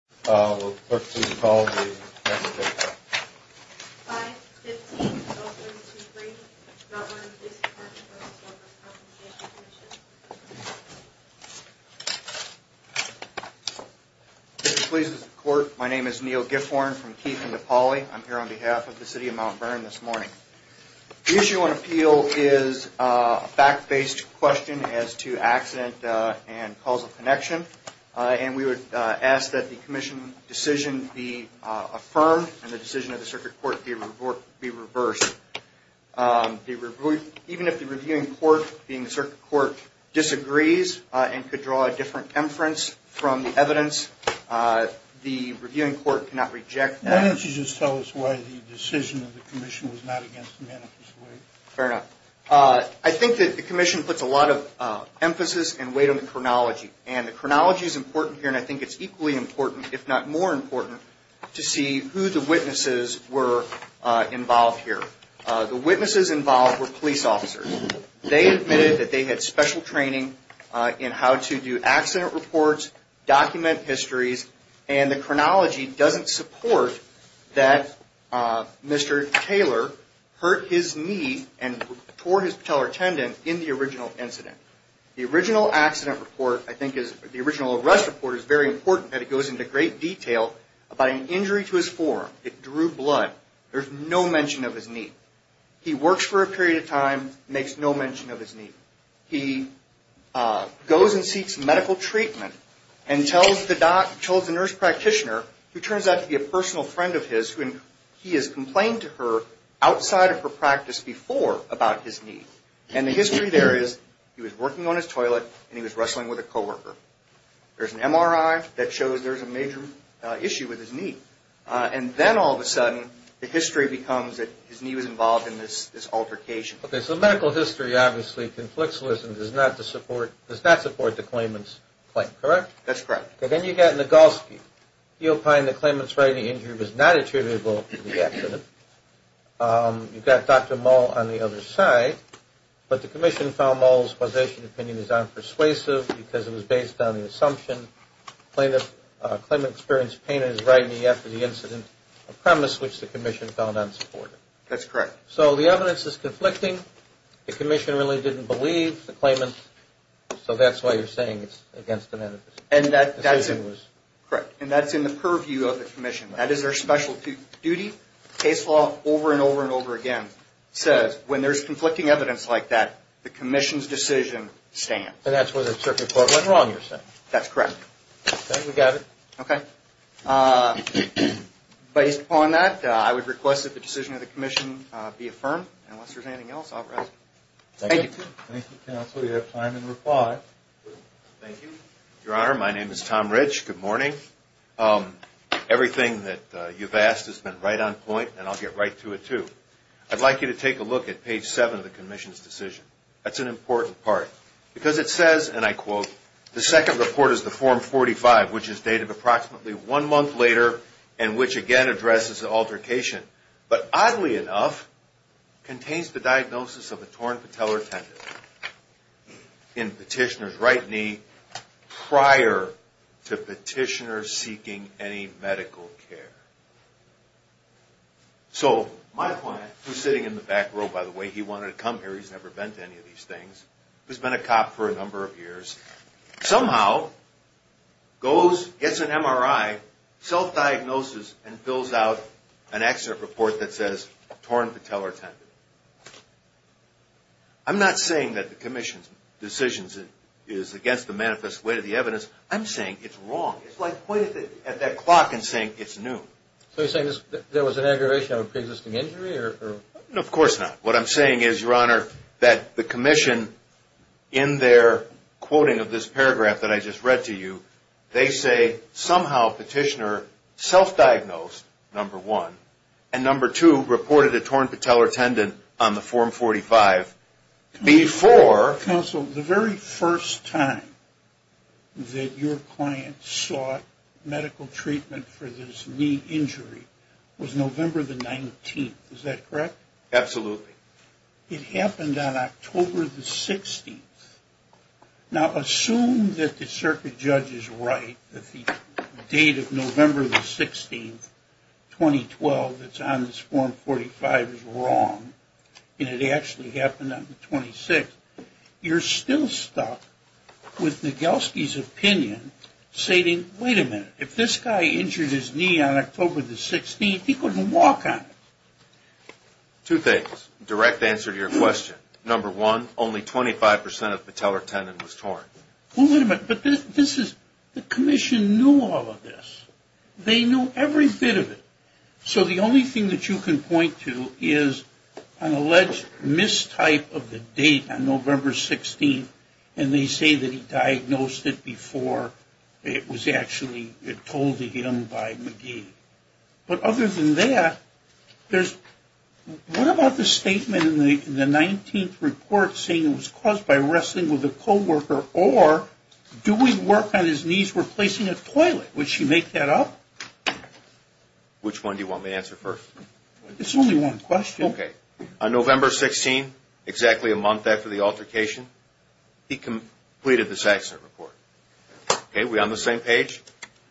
515-0323, Mount Vernon Police Department v. Employer v. Workers' Compensation Comm'n Mr. Polices of the Court, my name is Neil Gifhorn from Keith and Nepali. I'm here on behalf of the City of Mount Vernon this morning. The issue on appeal is a fact-based question as to accident and causal connection. And we would ask that the Commission decision be affirmed and the decision of the Circuit Court be reversed. Even if the Reviewing Court, being the Circuit Court, disagrees and could draw a different inference from the evidence, the Reviewing Court cannot reject that. Why don't you just tell us why the decision of the Commission was not against the manifest way? Fair enough. I think that the Commission puts a lot of emphasis and weight on the chronology. And the chronology is important here and I think it's equally important, if not more important, to see who the witnesses were involved here. The witnesses involved were police officers. They admitted that they had special training in how to do accident reports, document histories, and the chronology doesn't support that Mr. Taylor hurt his knee and tore his patellar tendon in the original incident. The original accident report, I think, the original arrest report is very important that it goes into great detail about an injury to his forearm. It drew blood. There's no mention of his knee. He works for a period of time, makes no mention of his knee. He goes and seeks medical treatment and tells the nurse practitioner, who turns out to be a personal friend of his, he has complained to her outside of her practice before about his knee. And the history there is he was working on his toilet and he was wrestling with a co-worker. There's an MRI that shows there's a major issue with his knee. And then all of a sudden the history becomes that his knee was involved in this altercation. Okay, so medical history obviously conflicts with and does not support the claimant's claim, correct? That's correct. And then you get Nagalski. He opined that the claimant's right knee injury was not attributable to the accident. You've got Dr. Moll on the other side. But the commission found Moll's possession opinion is unpersuasive because it was based on the assumption the claimant experienced pain in his right knee after the incident, a premise which the commission found unsupportive. That's correct. So the evidence is conflicting. The commission really didn't believe the claimant. So that's why you're saying it's against the medical history. And that's in the purview of the commission. That is their specialty duty. Case law over and over and over again says when there's conflicting evidence like that, the commission's decision stands. And that's where the circuit court went wrong, you're saying. That's correct. Okay, we got it. Based upon that, I would request that the decision of the commission be affirmed. And unless there's anything else, I'll rise. Thank you. Thank you, counsel. You have time to reply. Thank you. Your Honor, my name is Tom Rich. Good morning. Everything that you've asked has been right on point, and I'll get right to it too. I'd like you to take a look at page 7 of the commission's decision. That's an important part because it says, and I quote, The second report is the Form 45, which is dated approximately one month later and which, again, addresses the altercation. But oddly enough, contains the diagnosis of a torn patellar tendon in petitioner's right knee prior to petitioner seeking any medical care. So my client, who's sitting in the back row, by the way, he wanted to come here. He's never been to any of these things. He's been a cop for a number of years. Somehow goes, gets an MRI, self-diagnoses, and fills out an excerpt report that says torn patellar tendon. I'm not saying that the commission's decision is against the manifest way to the evidence. I'm saying it's wrong. It's like pointing at that clock and saying it's new. So you're saying there was an aggravation of a preexisting injury? Of course not. What I'm saying is, Your Honor, that the commission, in their quoting of this paragraph that I just read to you, they say somehow petitioner self-diagnosed, number one, and number two, reported a torn patellar tendon on the Form 45 before... Counsel, the very first time that your client sought medical treatment for this knee injury was November the 19th. Is that correct? Absolutely. It happened on October the 16th. Now, assume that the circuit judge is right, that the date of November the 16th, 2012, that's on this Form 45 is wrong, and it actually happened on the 26th. You're still stuck with Nagelski's opinion stating, wait a minute, if this guy injured his knee on October the 16th, he couldn't walk on it. Two things, direct answer to your question. Number one, only 25% of the patellar tendon was torn. Wait a minute, but this is, the commission knew all of this. They knew every bit of it. So the only thing that you can point to is an alleged mistype of the date on November 16th, and they say that he diagnosed it before it was actually told to him by McGee. But other than that, what about the statement in the 19th report saying it was caused by wrestling with a co-worker, or doing work on his knees replacing a toilet? Would she make that up? Which one do you want me to answer first? It's only one question. Okay. On November 16th, exactly a month after the altercation, he completed this accident report. Okay, we're on the same page.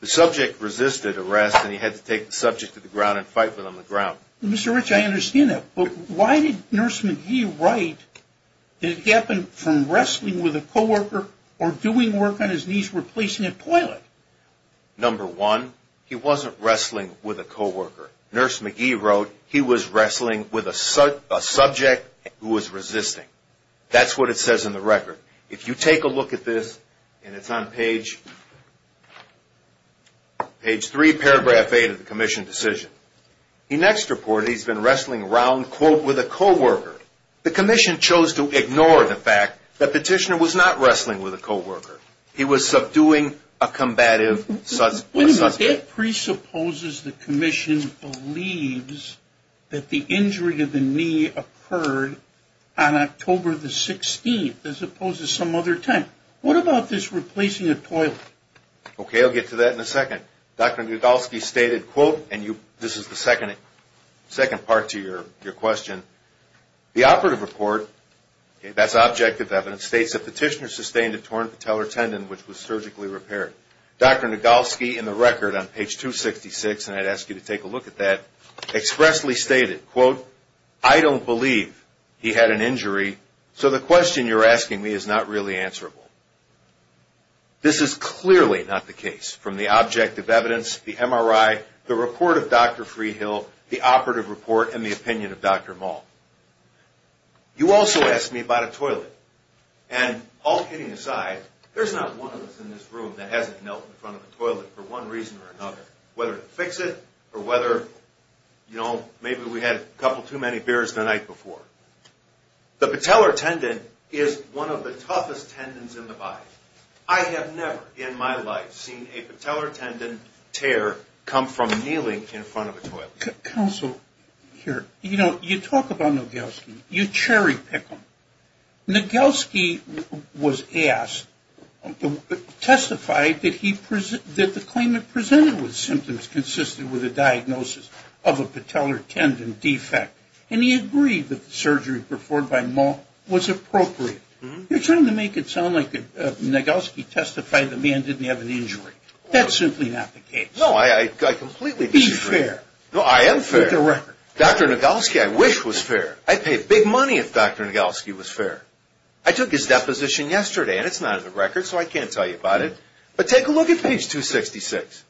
The subject resisted arrest, and he had to take the subject to the ground and fight with him on the ground. Mr. Rich, I understand that, but why did Nurse McGee write that it happened from wrestling with a co-worker or doing work on his knees replacing a toilet? Nurse McGee wrote he was wrestling with a subject who was resisting. That's what it says in the record. If you take a look at this, and it's on page 3, paragraph 8 of the commission decision, he next reported he's been wrestling around, quote, with a co-worker. The commission chose to ignore the fact that Petitioner was not wrestling with a co-worker. He was subduing a combative subject. Wait a minute. That presupposes the commission believes that the injury to the knee occurred on October the 16th as opposed to some other time. What about this replacing a toilet? Okay, I'll get to that in a second. Dr. Nagolsky stated, quote, and this is the second part to your question, the operative report, that's objective evidence, states that Petitioner sustained a torn patellar tendon which was surgically repaired. Dr. Nagolsky in the record on page 266, and I'd ask you to take a look at that, expressly stated, quote, I don't believe he had an injury, so the question you're asking me is not really answerable. This is clearly not the case from the objective evidence, the MRI, the report of Dr. Freehill, the operative report, and the opinion of Dr. Maul. You also asked me about a toilet, and all kidding aside, there's not one of us in this room that hasn't knelt in front of a toilet for one reason or another, whether to fix it or whether, you know, maybe we had a couple too many beers the night before. The patellar tendon is one of the toughest tendons in the body. I have never in my life seen a patellar tendon tear come from kneeling in front of a toilet. Counsel, here, you know, you talk about Nagolsky, you cherry pick him. Nagolsky was asked, testified that the claimant presented with symptoms consisted with a diagnosis of a patellar tendon defect, and he agreed that the surgery performed by Maul was appropriate. You're trying to make it sound like Nagolsky testified the man didn't have an injury. That's simply not the case. No, I completely disagree. Be fair. No, I am fair. Dr. Nagolsky, I wish was fair. I'd pay big money if Dr. Nagolsky was fair. I took his deposition yesterday, and it's not in the record, so I can't tell you about it. But take a look at page 266.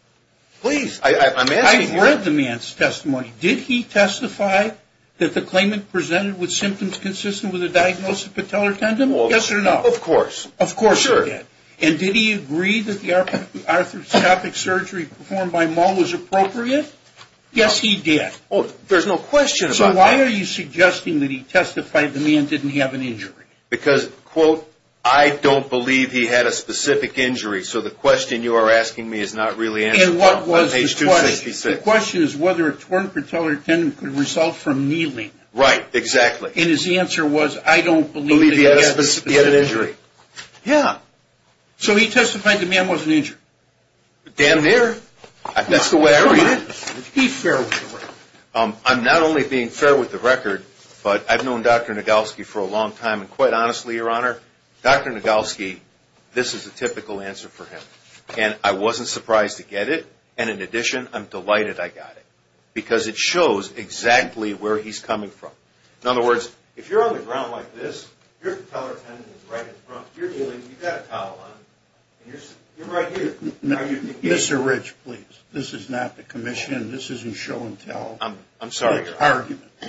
Please. I'm asking you. I've read the man's testimony. Did he testify that the claimant presented with symptoms consistent with a diagnosis of patellar tendon? Yes or no? Of course. Of course he did. And did he agree that the arthroscopic surgery performed by Maul was appropriate? Yes, he did. There's no question about that. So why are you suggesting that he testified the man didn't have an injury? Because, quote, I don't believe he had a specific injury. So the question you are asking me is not really answered. And what was the question? On page 266. The question is whether a torn patellar tendon could result from kneeling. Right, exactly. And his answer was, I don't believe he had an injury. Yeah. So he testified the man wasn't injured. Damn near. That's the way I read it. Be fair. I'm not only being fair with the record, but I've known Dr. Nagelsky for a long time, and quite honestly, Your Honor, Dr. Nagelsky, this is a typical answer for him. And I wasn't surprised to get it. And in addition, I'm delighted I got it because it shows exactly where he's coming from. In other words, if you're on the ground like this, your patellar tendon is right in front. You're kneeling. You've got a towel on. You're right here. Mr. Rich, please. This is not the commission. This isn't show and tell. I'm sorry, Your Honor.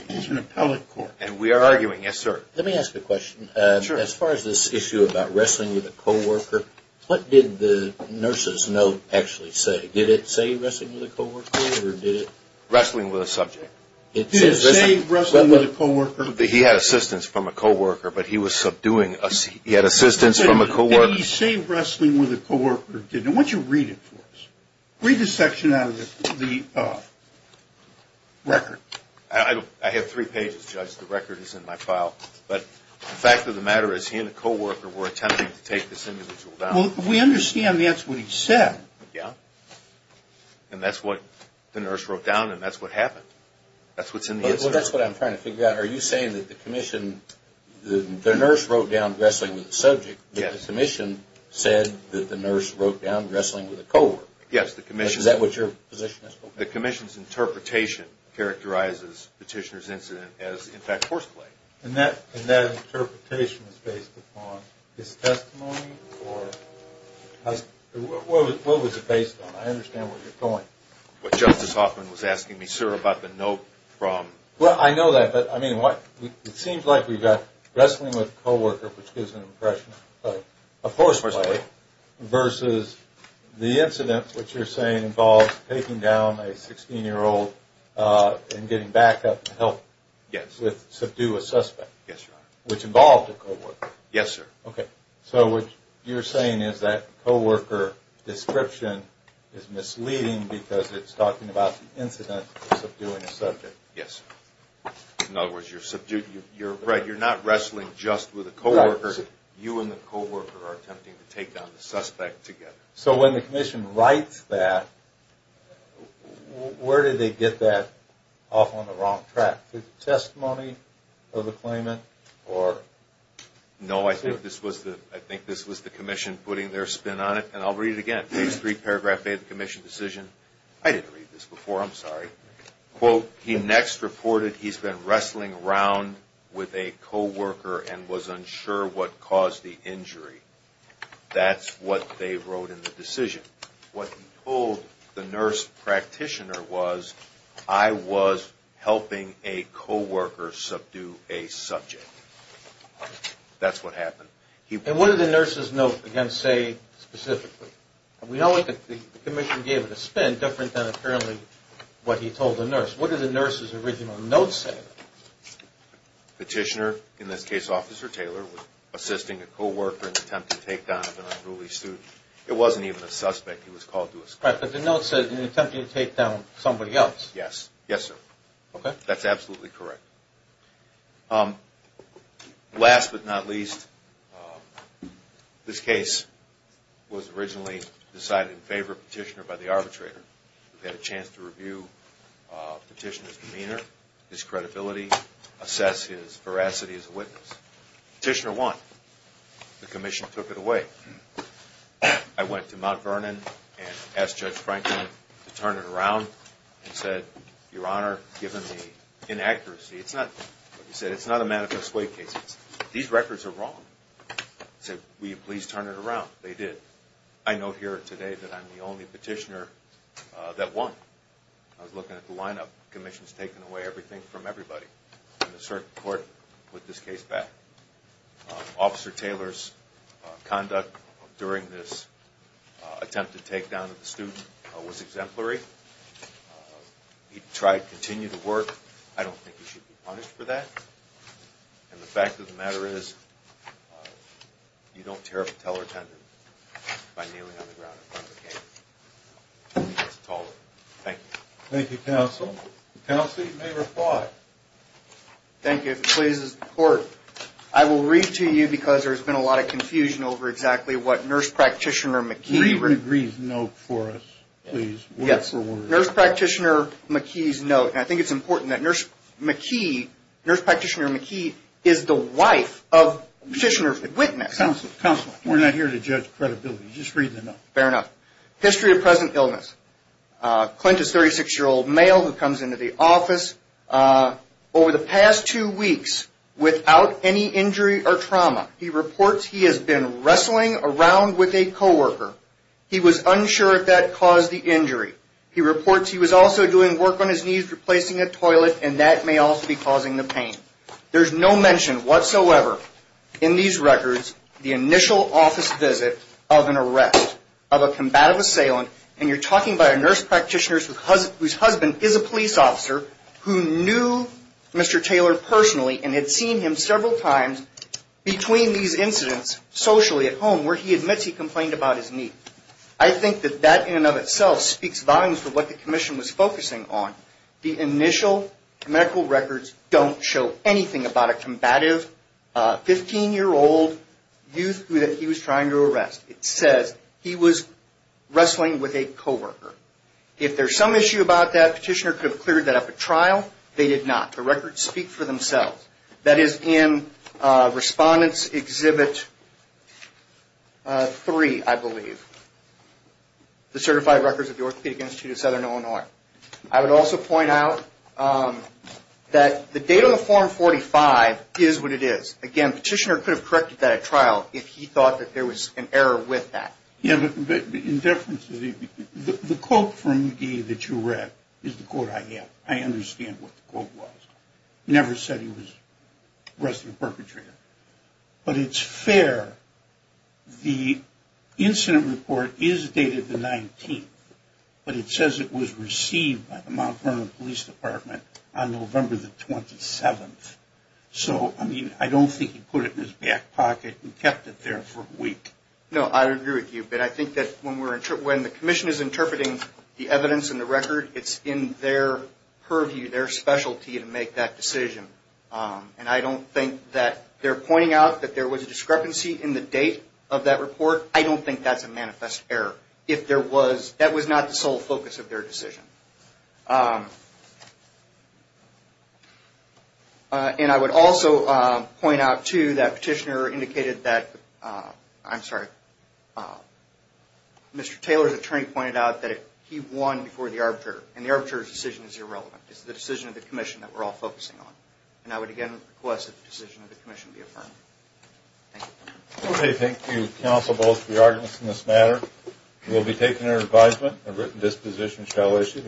It's an appellate court. And we are arguing. Yes, sir. Let me ask a question. Sure. As far as this issue about wrestling with a co-worker, what did the nurse's note actually say? Did it say wrestling with a co-worker or did it? Wrestling with a subject. Did it say wrestling with a co-worker? He had assistance from a co-worker, but he was subduing. He had assistance from a co-worker. Did he say wrestling with a co-worker? Did he? I want you to read it for us. Read this section out of the record. I have three pages, Judge. The record is in my file. But the fact of the matter is he and a co-worker were attempting to take this individual down. Well, we understand that's what he said. Yeah. And that's what the nurse wrote down and that's what happened. That's what's in the history. Well, that's what I'm trying to figure out. Are you saying that the commission, the nurse wrote down wrestling with a subject, but the commission said that the nurse wrote down wrestling with a co-worker? Yes, the commission. Is that what your position is? The commission's interpretation characterizes Petitioner's incident as, in fact, horseplay. And that interpretation is based upon his testimony or what was it based on? I understand where you're going. What Justice Hoffman was asking me, sir, about the note from... Well, I know that, but, I mean, it seems like we've got wrestling with a co-worker, which gives an impression of horseplay versus the incident, which you're saying involves taking down a 16-year-old and getting back up to help subdue a suspect. Yes, sir. Which involved a co-worker. Yes, sir. Okay. So what you're saying is that co-worker description is misleading because it's talking about the incident of subduing a subject. Yes. In other words, you're not wrestling just with a co-worker. You and the co-worker are attempting to take down the suspect together. So when the commission writes that, where did they get that off on the wrong track? The testimony of the claimant or... No, I think this was the commission putting their spin on it. And I'll read it again. Page 3, paragraph A of the commission decision. I didn't read this before, I'm sorry. Quote, he next reported he's been wrestling around with a co-worker and was unsure what caused the injury. That's what they wrote in the decision. What he told the nurse practitioner was, I was helping a co-worker subdue a subject. That's what happened. And what did the nurse's note, again, say specifically? We know that the commission gave it a spin, different than apparently what he told the nurse. What did the nurse's original note say? Petitioner, in this case Officer Taylor, was assisting a co-worker in an attempt to take down an unruly student. It wasn't even a suspect. He was called to a school. Right, but the note said, in an attempt to take down somebody else. Yes. Yes, sir. Okay. That's absolutely correct. Last but not least, this case was originally decided in favor of Petitioner by the arbitrator. We had a chance to review Petitioner's demeanor, his credibility, assess his veracity as a witness. Petitioner won. The commission took it away. I went to Mount Vernon and asked Judge Franklin to turn it around and said, Your Honor, given the inaccuracy, it's not a manifest way case. These records are wrong. I said, will you please turn it around? They did. I note here today that I'm the only Petitioner that won. I was looking at the lineup. The commission's taken away everything from everybody. And the circuit court put this case back. Officer Taylor's conduct during this attempt to take down the student was exemplary. He tried to continue to work. I don't think he should be punished for that. And the fact of the matter is, you don't tear up a teller tendon by kneeling on the ground in front of a case. He gets taller. Thank you. Thank you, Counsel. Counsel, you may reply. Thank you. If it pleases the Court, I will read to you, because there's been a lot of confusion over exactly what Nurse Practitioner McKee McKee's note for us, please, word for word. Yes, Nurse Practitioner McKee's note. And I think it's important that Nurse McKee, Nurse Practitioner McKee, is the wife of Petitioner Whitman. Counsel, we're not here to judge credibility. Just read the note. Fair enough. History of present illness. Clint is a 36-year-old male who comes into the office. Over the past two weeks, without any injury or trauma, he reports he has been wrestling around with a co-worker. He was unsure if that caused the injury. He reports he was also doing work on his knees, replacing a toilet, and that may also be causing the pain. There's no mention whatsoever in these records the initial office visit of an arrest of a combative assailant, and you're talking about a nurse practitioner whose husband is a police officer who knew Mr. Taylor personally and had seen him several times between these incidents socially at home where he admits he complained about his knee. I think that that in and of itself speaks volumes for what the commission was focusing on. The initial medical records don't show anything about a combative 15-year-old youth who he was trying to arrest. It says he was wrestling with a co-worker. If there's some issue about that, Petitioner could have cleared that up at trial. They did not. The records speak for themselves. That is in Respondent's Exhibit 3, I believe, the Certified Records of the Orthopedic Institute of Southern Illinois. I would also point out that the date on the Form 45 is what it is. Again, Petitioner could have corrected that at trial if he thought that there was an error with that. The quote from McGee that you read is the quote I have. I understand what the quote was. He never said he was wrestling a perpetrator. But it's fair. The incident report is dated the 19th, but it says it was received by the Mount Vernon Police Department on November the 27th. So, I mean, I don't think he put it in his back pocket and kept it there for a week. No, I agree with you. But I think that when the Commission is interpreting the evidence in the record, it's in their purview, their specialty, to make that decision. And I don't think that they're pointing out that there was a discrepancy in the date of that report. I don't think that's a manifest error. That was not the sole focus of their decision. And I would also point out, too, that Petitioner indicated that, I'm sorry, Mr. Taylor's attorney pointed out that he won before the Arbiter. And the Arbiter's decision is irrelevant. It's the decision of the Commission that we're all focusing on. And I would again request that the decision of the Commission be affirmed. Thank you. Okay. Thank you, counsel, both for your arguments in this matter. We'll be taking our advisement. A written disposition shall issue.